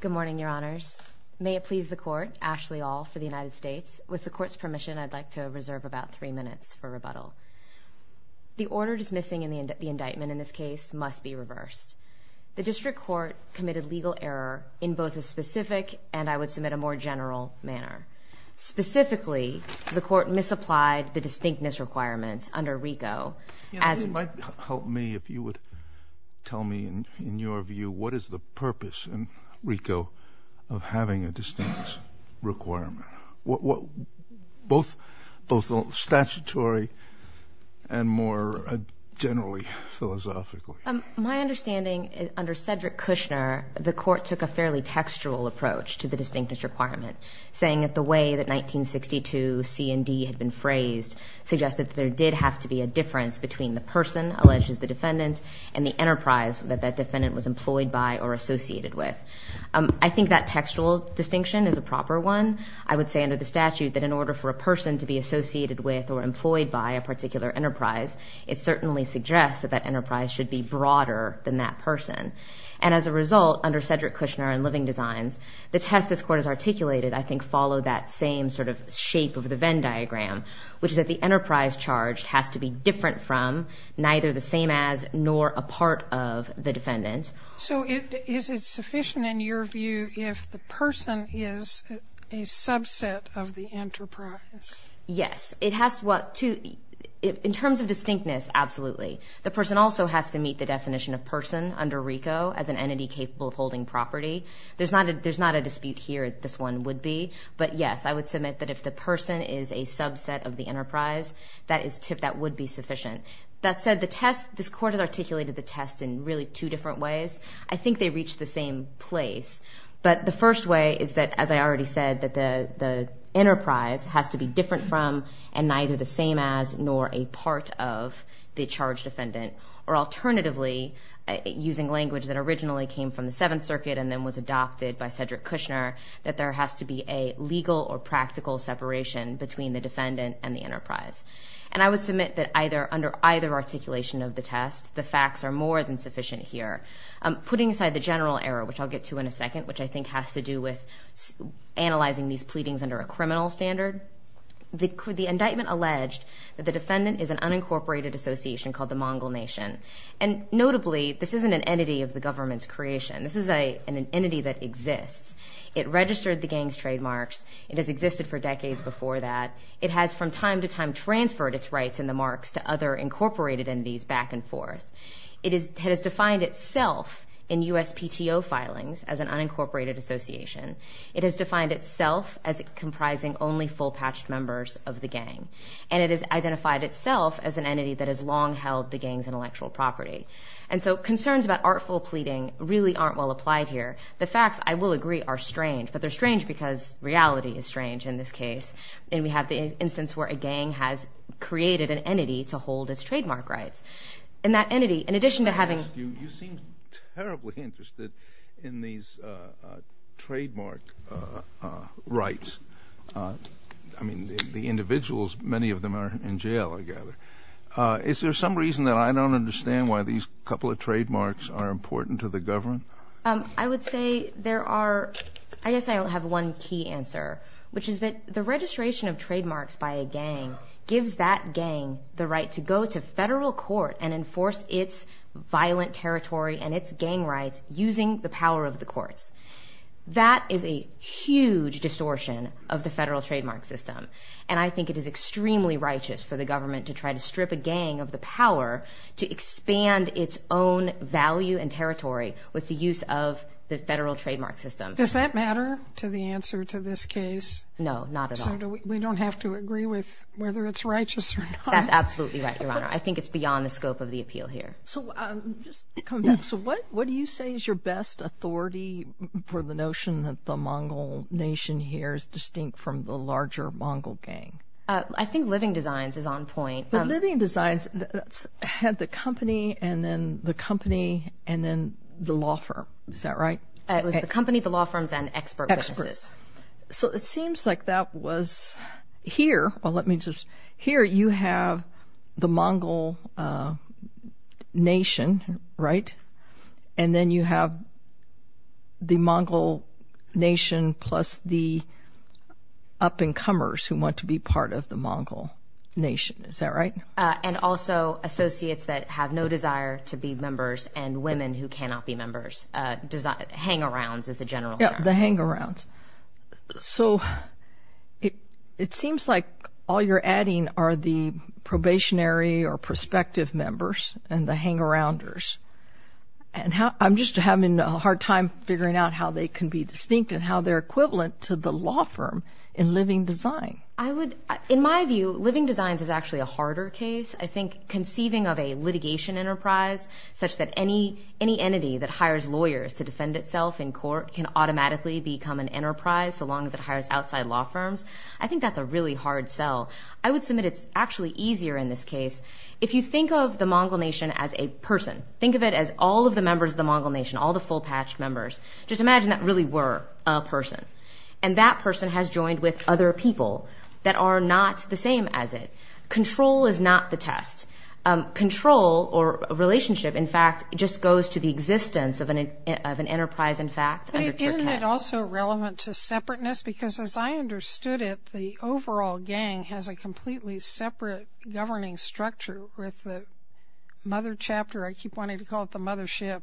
Good morning, your honors. May it please the court, Ashley All for the United States. With the court's permission, I'd like to reserve about three minutes for rebuttal. The order dismissing the indictment in this case must be reversed. The district court committed legal error in both a specific and, I would submit, a more general manner. Specifically, the court misapplied the distinctness requirement under RICO. It might help me if you would tell me, in your view, what is the purpose in RICO of having a distinct requirement? Both statutory and more generally, philosophically. My understanding is, under Cedric Kushner, the court took a fairly textual approach to the distinctness requirement, saying that the way that 1962 C&D had been phrased suggested that there did have to be a difference between the person, alleged as the defendant, and the enterprise that that defendant was employed by or associated with. I think that textual distinction is a proper one. I would say under the statute that in order for a person to be associated with or employed by a particular enterprise, it certainly suggests that that enterprise should be broader than that person. And as a result, under Cedric Kushner and living designs, the test this court has articulated, I think, followed that same sort of shape of the Venn diagram, which is that the enterprise charged has to be different from, neither the same as, nor a part of the defendant. So is it sufficient, in your view, if the person is a subset of the enterprise? Yes. It has to, in terms of distinctness, absolutely. The person also has to meet the definition of person under RICO as an entity capable of holding property. There's not a dispute here that this one would be. But yes, I would submit that if the person is a subset of the enterprise, that would be sufficient. That said, this court has articulated the test in really two different ways. I think they reach the same place. But the first way is that, as I already said, that the enterprise has to be different from and neither the same as nor a part of the charged defendant. Or alternatively, using language that originally came from the Seventh Circuit and then was adopted by Cedric Kushner, that there has to be a legal or practical separation between the defendant and the enterprise. And I would submit that under either articulation of the test, the facts are more than sufficient here. Putting aside the general error, which I'll get to in a second, which I think has to do with analyzing these pleadings under a criminal standard, the indictment alleged that the defendant is an unincorporated association called the Mongol Nation. And notably, this isn't an entity of the government's creation. This is an entity that exists. It registered the gang's trademarks. It has existed for decades before that. It has from time to time transferred its rights in the marks to other incorporated entities back and forth. It has defined itself in USPTO filings as an unincorporated association. It has defined itself as comprising only full-patched members of the gang. And it has identified itself as an entity that has long held the gang's intellectual property. And so concerns about artful pleading really aren't well applied here. The facts, I will agree, are strange. But they're strange because reality is strange in this case. And we have the instance where a gang has created an entity to hold its trademark rights. And that entity, in addition to having... You seem terribly interested in these trademark rights. I mean, the individuals, many of them are in jail, I gather. Is there some reason that I don't understand why these couple of trademarks are important to the government? I would say there are, I guess I have one key answer, which is that the registration of trademarks by a gang gives that gang the right to go to federal court and enforce its violent territory and its gang rights using the power of the courts. That is a huge distortion of the federal trademark system. And I think it is extremely righteous for the government to try to strip a gang of the power to expand its own value and territory with the use of the federal trademark system. Does that matter to the answer to this case? No, not at all. So we don't have to agree with whether it's righteous or not? That's absolutely right, Your Honor. I think it's beyond the scope of the appeal here. So what do you say is your best authority for the notion that the Mongol nation here is distinct from the larger Mongol gang? I think Living Designs is on point. Living Designs had the company and then the company and then the law firm. Is that right? It was the company, the law firms, and expert witnesses. So it seems like that was here. Well, let me just, here you have the Mongol nation, right? And then you have the Mongol nation plus the up-and-comers who want to be part of the Mongol nation. Is that right? And also associates that have no desire to be members and women who cannot be members. Hang-arounds is the general term. Yeah, the hang-arounds. So it seems like all you're adding are the probationary or prospective members and the hang-arounders. I'm just having a hard time figuring out how they can be distinct and how they're equivalent to the law firm in Living Design. In my view, Living Designs is actually a harder case. I think conceiving of a litigation enterprise such that any entity that hires lawyers to defend itself in court can automatically become an enterprise so long as it hires outside law firms. I think that's a really hard sell. I would submit it's actually easier in this case. If you think of the Mongol nation as a person, think of it as all of the members of the Mongol nation, all the full-patched members, just imagine that really were a person. And that person has joined with other people that are not the same as it. Control is not the test. Control or relationship, in fact, just goes to the existence of an enterprise, in fact. But isn't it also relevant to separateness? Because as I understood it, the overall gang has a completely separate governing structure with the mother chapter. I keep wanting to call it the mothership.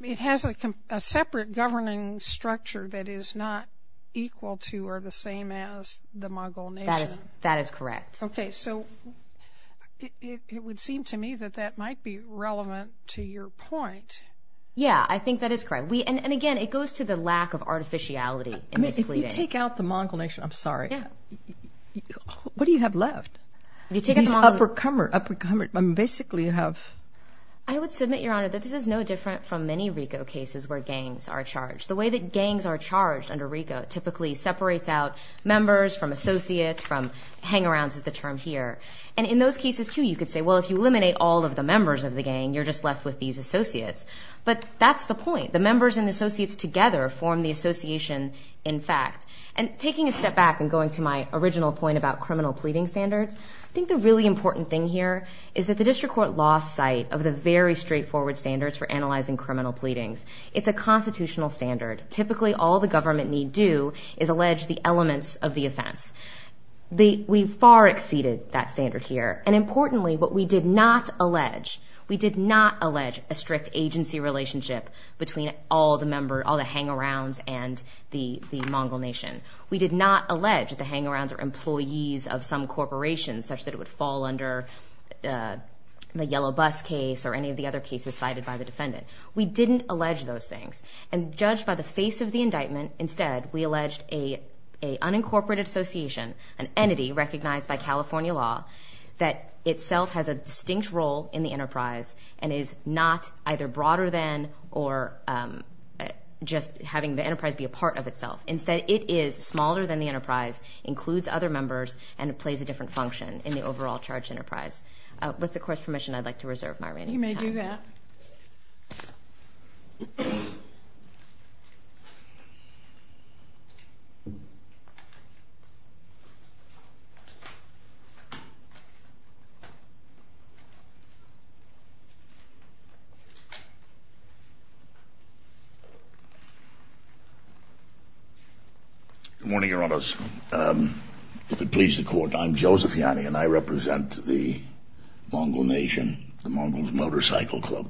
It has a separate governing structure that is not equal to or the same as the Mongol nation. That is correct. Okay, so it would seem to me that that might be relevant to your point. Yeah, I think that is correct. And again, it goes to the lack of artificiality in this pleading. If you take out the Mongol nation, I'm sorry, what do you have left? These uppercummer, basically you have. I would submit, Your Honor, that this is no different from many RICO cases where gangs are charged. The way that gangs are charged under RICO typically separates out members from associates from hang-arounds is the term here. And in those cases, too, you could say, well, if you eliminate all of the members of the gang, you're just left with these associates. But that's the point. The members and associates together form the association, in fact. And taking a step back and going to my original point about criminal pleading standards, I think the really important thing here is that the district court lost sight of the very straightforward standards for analyzing criminal pleadings. It's a constitutional standard. Typically, all the government need do is allege the elements of the offense. We far exceeded that standard here. And importantly, what we did not allege, we did not allege a strict agency relationship between all the hang-arounds and the Mongol nation. We did not allege that the hang-arounds are employees of some corporation, such that it would fall under the yellow bus case or any of the other cases cited by the defendant. We didn't allege those things. And judged by the face of the indictment, instead, we alleged an unincorporated association, an entity recognized by California law that itself has a distinct role in the enterprise and is not either broader than or just having the enterprise be a part of itself. Instead, it is smaller than the enterprise, includes other members, and it plays a different function in the overall charged enterprise. With the court's permission, I'd like to reserve my remaining time. You may do that. Good morning, Your Honors. If it pleases the court, I'm Joseph Yanni, and I represent the Mongol nation, the Mongols Motorcycle Club.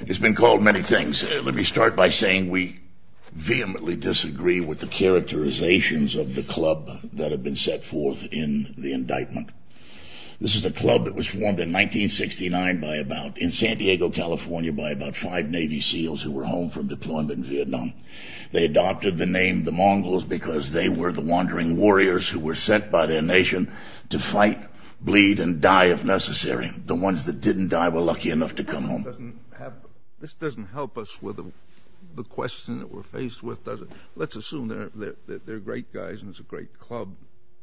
It's been called many things. Let me start by saying we vehemently disagree with the characterizations of the club that have been set forth in the indictment. This is a club that was formed in 1969 by about, in San Diego, California, by about five Navy SEALs who were home from deployment in Vietnam. They adopted the name the Mongols because they were the wandering warriors who were sent by their nation to fight, bleed, and die if necessary. The ones that didn't die were lucky enough to come home. This doesn't help us with the question that we're faced with, does it? Let's assume they're great guys and it's a great club.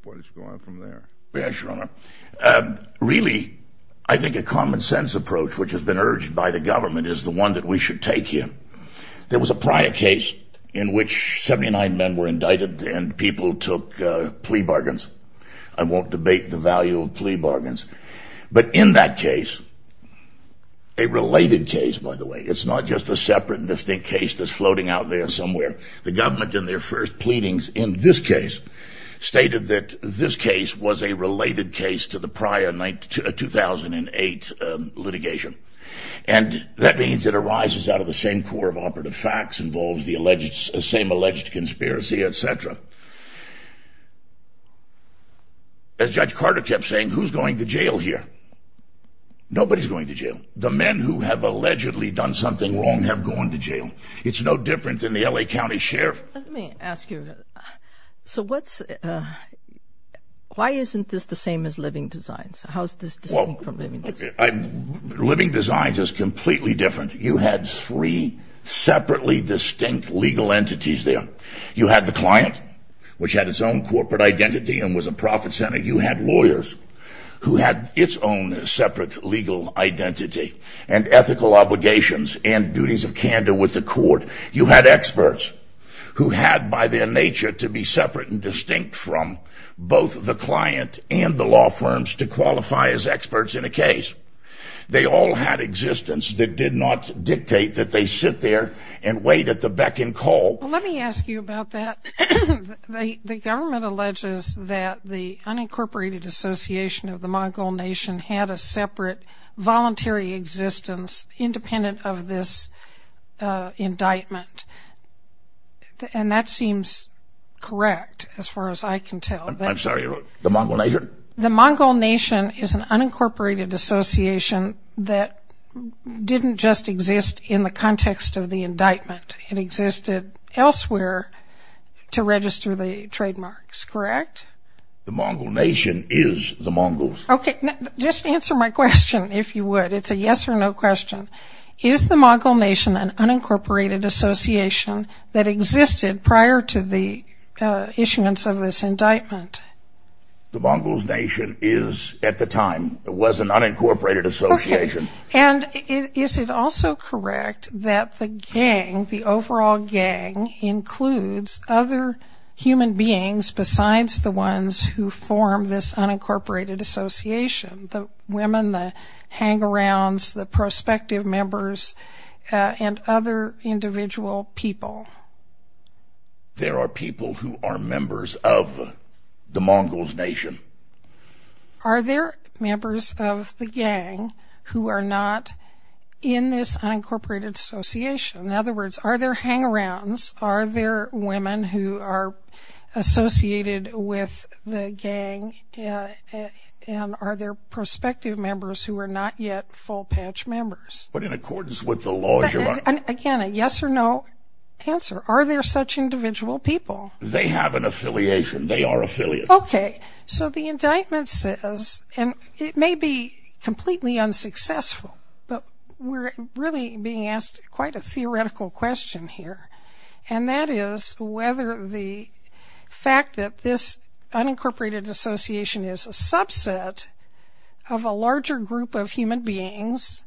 What is going on from there? Yes, Your Honor. Really, I think a common sense approach, which has been urged by the government, is the one that we should take here. There was a prior case in which 79 men were indicted and people took plea bargains. I won't debate the value of plea bargains. But in that case, a related case, by the way, it's not just a separate and distinct case that's floating out there somewhere. The government, in their first pleadings in this case, stated that this case was a related case to the prior 2008 litigation. That means it arises out of the same core of operative facts, involves the same alleged conspiracy, etc. As Judge Carter kept saying, who's going to jail here? Nobody's going to jail. The men who have allegedly done something wrong have gone to jail. It's no different than the L.A. County Sheriff. Let me ask you, why isn't this the same as living designs? How is this distinct from living designs? Living designs is completely different. You had three separately distinct legal entities there. You had the client, which had its own corporate identity and was a profit center. You had lawyers who had its own separate legal identity and ethical obligations and duties of candor with the court. You had experts who had, by their nature, to be separate and distinct from both the client and the law firms to qualify as experts in a case. They all had existence that did not dictate that they sit there and wait at the beck and call. Let me ask you about that. The government alleges that the Unincorporated Association of the Mongol Nation had a separate voluntary existence independent of this indictment. And that seems correct, as far as I can tell. I'm sorry, the Mongol Nation? The Mongol Nation is an unincorporated association that didn't just exist in the context of the indictment. It existed elsewhere to register the trademarks, correct? The Mongol Nation is the Mongols. Okay, just answer my question, if you would. It's a yes or no question. Is the Mongol Nation an unincorporated association that existed prior to the issuance of this indictment? The Mongols Nation is, at the time, was an unincorporated association. And is it also correct that the gang, the overall gang, includes other human beings besides the ones who form this unincorporated association, the women, the hangarounds, the prospective members, and other individual people? There are people who are members of the Mongols Nation. Are there members of the gang who are not in this unincorporated association? In other words, are there hangarounds? Are there women who are associated with the gang? And are there prospective members who are not yet full-patch members? But in accordance with the laws you're on. Again, a yes or no answer. Are there such individual people? They have an affiliation. They are affiliates. Okay, so the indictment says, and it may be completely unsuccessful, but we're really being asked quite a theoretical question here, and that is whether the fact that this unincorporated association is a subset of a larger group of human beings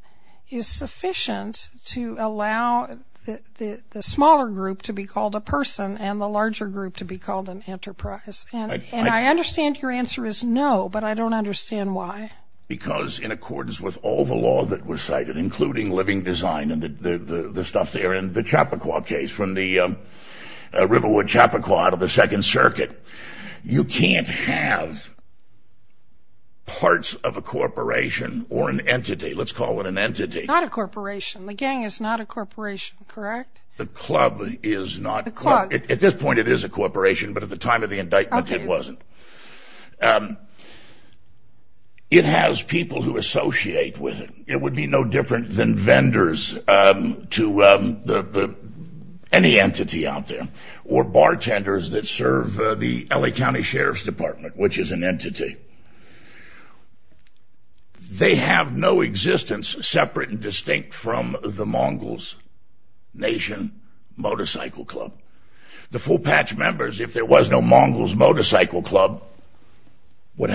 is sufficient to allow the smaller group to be called a person and the larger group to be called an enterprise. And I understand your answer is no, but I don't understand why. Because in accordance with all the law that was cited, including living design and the stuff there in the Chappaqua case, from the Riverwood Chappaqua out of the Second Circuit, you can't have parts of a corporation or an entity. Let's call it an entity. Not a corporation. The gang is not a corporation, correct? The club is not. The club. At this point it is a corporation, but at the time of the indictment it wasn't. It has people who associate with it. It would be no different than vendors to any entity out there, or bartenders that serve the L.A. County Sheriff's Department, which is an entity. They have no existence separate and distinct from the Mongols Nation Motorcycle Club. The full patch members, if there was no Mongols Motorcycle Club, But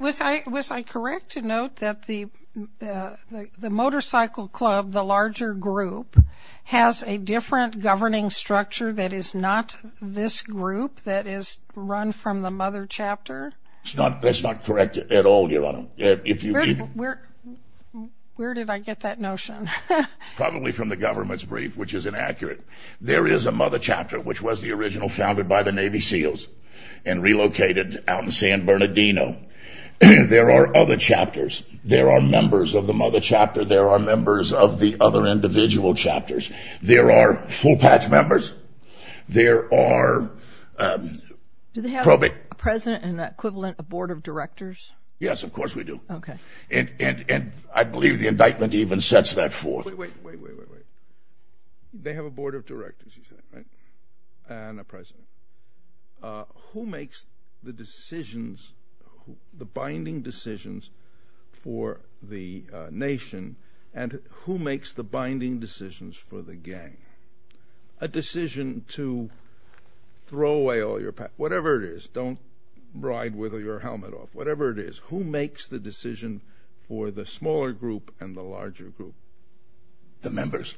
was I correct to note that the motorcycle club, the larger group, has a different governing structure that is not this group that is run from the mother chapter? That's not correct at all, Your Honor. Where did I get that notion? Probably from the government's brief, which is inaccurate. There is a mother chapter, which was the original founded by the Navy SEALs and relocated out in San Bernardino. There are other chapters. There are members of the mother chapter. There are members of the other individual chapters. There are full patch members. There are probate. Do they have a president and an equivalent, a board of directors? Yes, of course we do. Okay. And I believe the indictment even sets that forth. Wait, wait, wait, wait, wait. They have a board of directors, you said, right? And a president. Who makes the decisions, the binding decisions, for the nation, and who makes the binding decisions for the gang? A decision to throw away all your passports, whatever it is, don't ride with your helmet off, whatever it is, who makes the decision for the smaller group and the larger group? The members.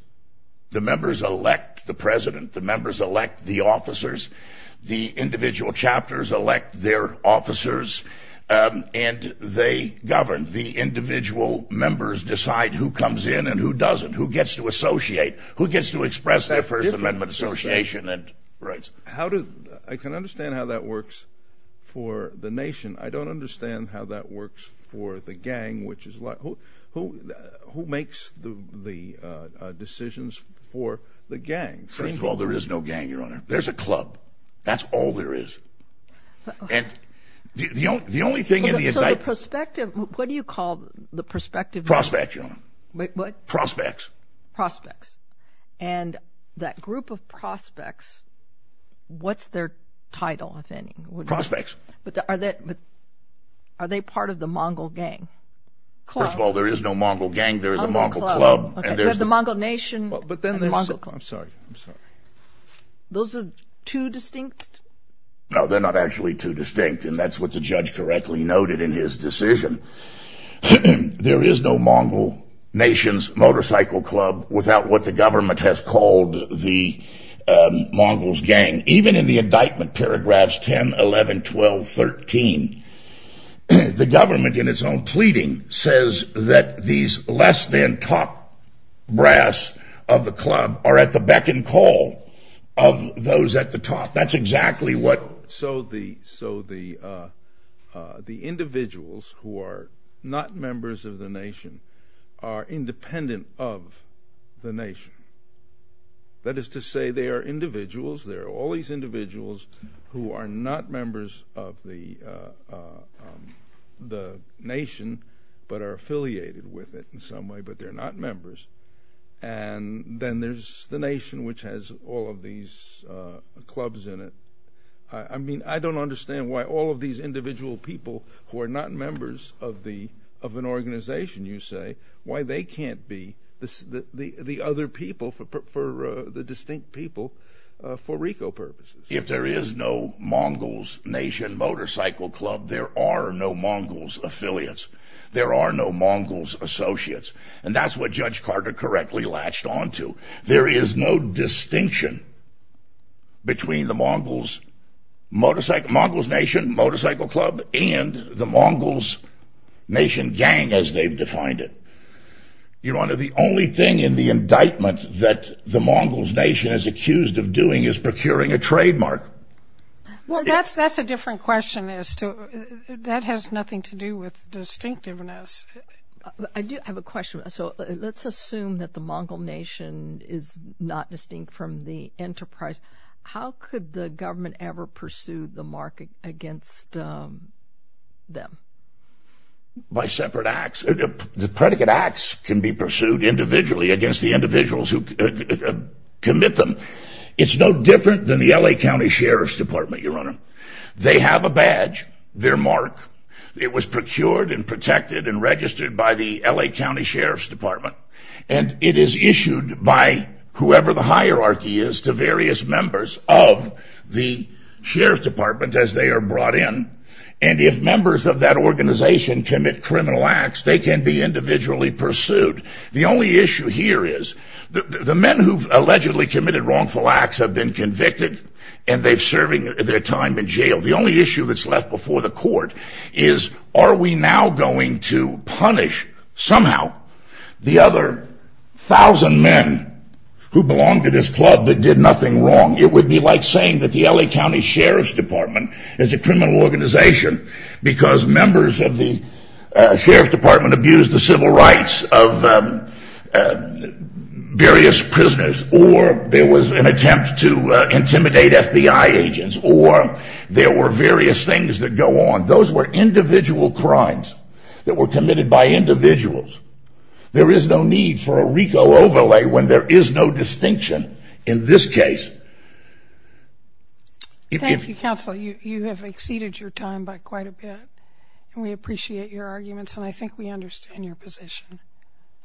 The members elect the president. The members elect the officers. The individual chapters elect their officers, and they govern. The individual members decide who comes in and who doesn't, who gets to associate, who gets to express their First Amendment association and rights. I can understand how that works for the nation. I don't understand how that works for the gang, which is like who makes the decisions for the gang? First of all, there is no gang, Your Honor. There's a club. That's all there is. And the only thing in the indictment. So the perspective, what do you call the perspective? Prospect, Your Honor. Wait, what? Prospects. Prospects. And that group of prospects, what's their title, if any? Prospects. But are they part of the Mongol gang? First of all, there is no Mongol gang. There is a Mongol club. You have the Mongol nation. I'm sorry. I'm sorry. Those are too distinct? No, they're not actually too distinct, and that's what the judge correctly noted in his decision. There is no Mongol nation's motorcycle club without what the government has called the Mongol's gang. And even in the indictment paragraphs 10, 11, 12, 13, the government in its own pleading says that these less than top brass of the club are at the beck and call of those at the top. That's exactly what. So the individuals who are not members of the nation are independent of the nation. That is to say they are individuals. They're all these individuals who are not members of the nation but are affiliated with it in some way, but they're not members. And then there's the nation, which has all of these clubs in it. I mean, I don't understand why all of these individual people who are not members of an organization, you say, why they can't be? The other people for the distinct people for RICO purposes. If there is no Mongols nation motorcycle club, there are no Mongols affiliates. There are no Mongols associates, and that's what Judge Carter correctly latched onto. There is no distinction between the Mongols nation motorcycle club and the Mongols nation gang as they've defined it. Your Honor, the only thing in the indictment that the Mongols nation is accused of doing is procuring a trademark. Well, that's a different question as to that has nothing to do with distinctiveness. I do have a question. So let's assume that the Mongol nation is not distinct from the enterprise. How could the government ever pursue the market against them? By separate acts. The predicate acts can be pursued individually against the individuals who commit them. It's no different than the L.A. County Sheriff's Department, Your Honor. They have a badge, their mark. It was procured and protected and registered by the L.A. County Sheriff's Department. And it is issued by whoever the hierarchy is to various members of the Sheriff's Department as they are brought in. And if members of that organization commit criminal acts, they can be individually pursued. The only issue here is the men who've allegedly committed wrongful acts have been convicted and they're serving their time in jail. The only issue that's left before the court is are we now going to punish somehow the other thousand men who belong to this club that did nothing wrong? It would be like saying that the L.A. County Sheriff's Department is a criminal organization because members of the Sheriff's Department abused the civil rights of various prisoners or there was an attempt to intimidate FBI agents or there were various things that go on. Those were individual crimes that were committed by individuals. There is no need for a RICO overlay when there is no distinction in this case. Thank you, Counsel. You have exceeded your time by quite a bit, and we appreciate your arguments, and I think we understand your position.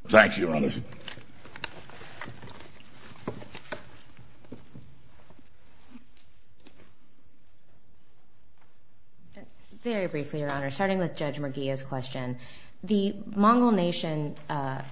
Thank you, Your Honor. Very briefly, Your Honor, starting with Judge Murguia's question. The Mongol Nation, a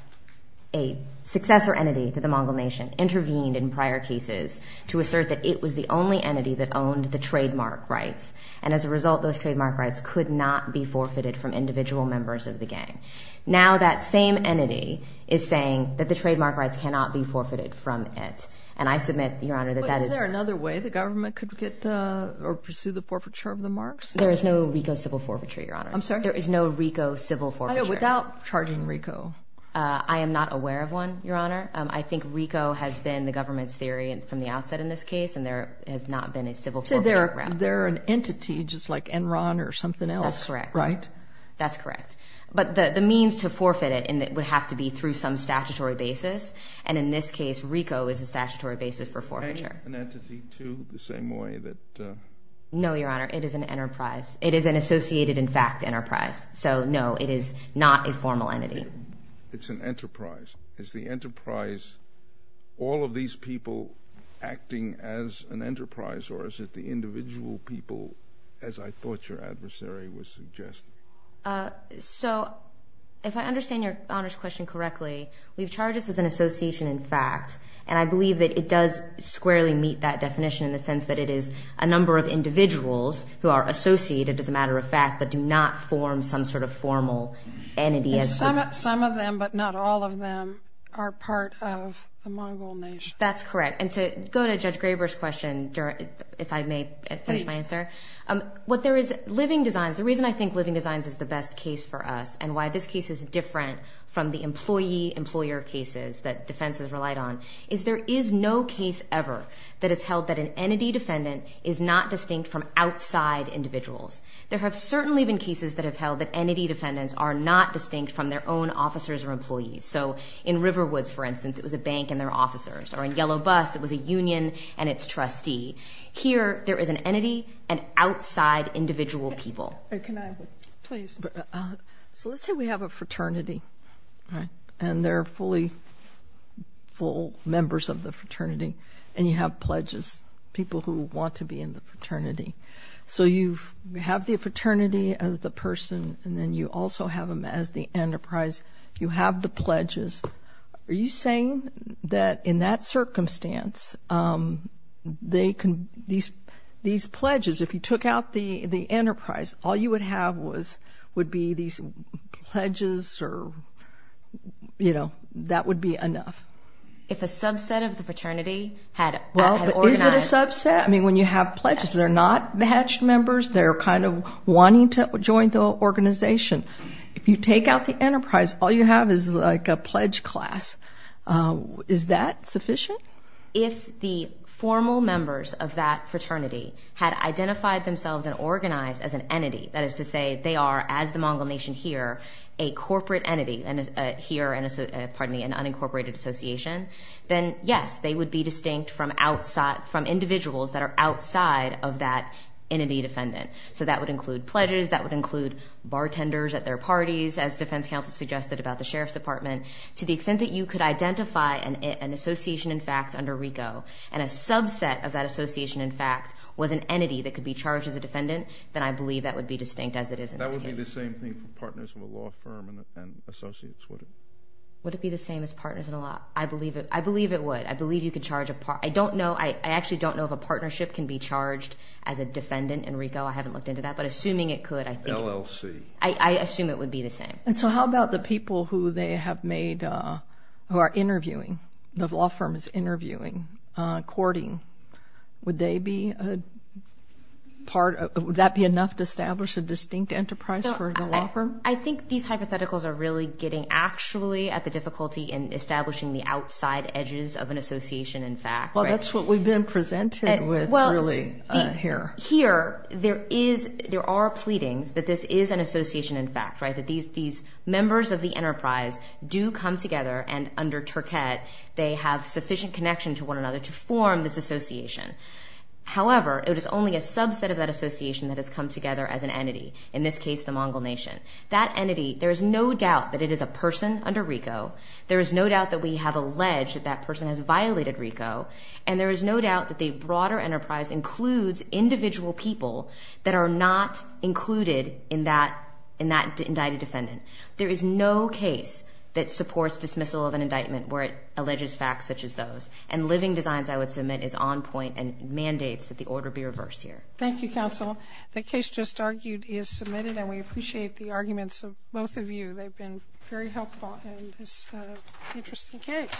successor entity to the Mongol Nation, intervened in prior cases to assert that it was the only entity that owned the trademark rights, and as a result, those trademark rights could not be forfeited from individual members of the gang. Now that same entity is saying that the trademark rights cannot be forfeited from it, and I submit, Your Honor, that that is— But is there another way the government could get or pursue the forfeiture of the marks? There is no RICO civil forfeiture, Your Honor. I'm sorry? There is no RICO civil forfeiture. Without charging RICO? I am not aware of one, Your Honor. I think RICO has been the government's theory from the outset in this case, and there has not been a civil forfeiture route. So they're an entity, just like Enron or something else, right? That's correct. But the means to forfeit it would have to be through some statutory basis, and in this case, RICO is the statutory basis for forfeiture. Is the gang an entity, too, the same way that— No, Your Honor. It is an enterprise. It is an associated, in fact, enterprise. So, no, it is not a formal entity. It's an enterprise. Is the enterprise all of these people acting as an enterprise, or is it the individual people, as I thought your adversary was suggesting? So if I understand Your Honor's question correctly, we've charged this as an association, in fact, and I believe that it does squarely meet that definition in the sense that it is a number of individuals who are associated, as a matter of fact, but do not form some sort of formal entity. Some of them, but not all of them, are part of the Mongol nation. That's correct. And to go to Judge Graber's question, if I may finish my answer. Please. What there is—Living Designs, the reason I think Living Designs is the best case for us and why this case is different from the employee-employer cases that defense has relied on, is there is no case ever that has held that an entity defendant is not distinct from outside individuals. There have certainly been cases that have held that entity defendants are not distinct from their own officers or employees. So in Riverwoods, for instance, it was a bank and their officers, or in Yellow Bus, it was a union and its trustee. Here, there is an entity and outside individual people. Can I? Please. So let's say we have a fraternity, and they're full members of the fraternity, and you have pledges, people who want to be in the fraternity. So you have the fraternity as the person, and then you also have them as the enterprise. You have the pledges. Are you saying that in that circumstance, these pledges, if you took out the enterprise, all you would have would be these pledges or, you know, that would be enough? If a subset of the fraternity had organized. Well, but is it a subset? I mean, when you have pledges, they're not batched members. They're kind of wanting to join the organization. If you take out the enterprise, all you have is like a pledge class. Is that sufficient? If the formal members of that fraternity had identified themselves and organized as an entity, that is to say they are, as the Mongol Nation here, a corporate entity here, pardon me, an unincorporated association, then, yes, they would be distinct from individuals that are outside of that entity defendant. So that would include pledges. That would include bartenders at their parties, as defense counsel suggested about the sheriff's department. To the extent that you could identify an association, in fact, under RICO, and a subset of that association, in fact, was an entity that could be charged as a defendant, then I believe that would be distinct as it is in this case. That would be the same thing for partners of a law firm and associates, would it? Would it be the same as partners in a law? I believe it would. I believe you could charge a part. I don't know. I actually don't know if a partnership can be charged as a defendant in RICO. I haven't looked into that, but assuming it could, I think. LLC. I assume it would be the same. And so how about the people who they have made, who are interviewing, the law firm is interviewing, courting, would they be a part, would that be enough to establish a distinct enterprise for the law firm? I think these hypotheticals are really getting actually at the difficulty in establishing the outside edges of an association, in fact. Well, that's what we've been presented with, really, here. Here, there is, there are pleadings that this is an association, in fact, right, that these members of the enterprise do come together, and under Turket, they have sufficient connection to one another to form this association. However, it is only a subset of that association that has come together as an entity, in this case, the Mongol nation. That entity, there is no doubt that it is a person under RICO. There is no doubt that we have alleged that that person has violated RICO, and there is no doubt that the broader enterprise includes individual people that are not included in that indicted defendant. There is no case that supports dismissal of an indictment where it alleges facts such as those, and Living Designs, I would submit, is on point and mandates that the order be reversed here. Thank you, counsel. The case just argued is submitted, and we appreciate the arguments of both of you. They've been very helpful in this interesting case.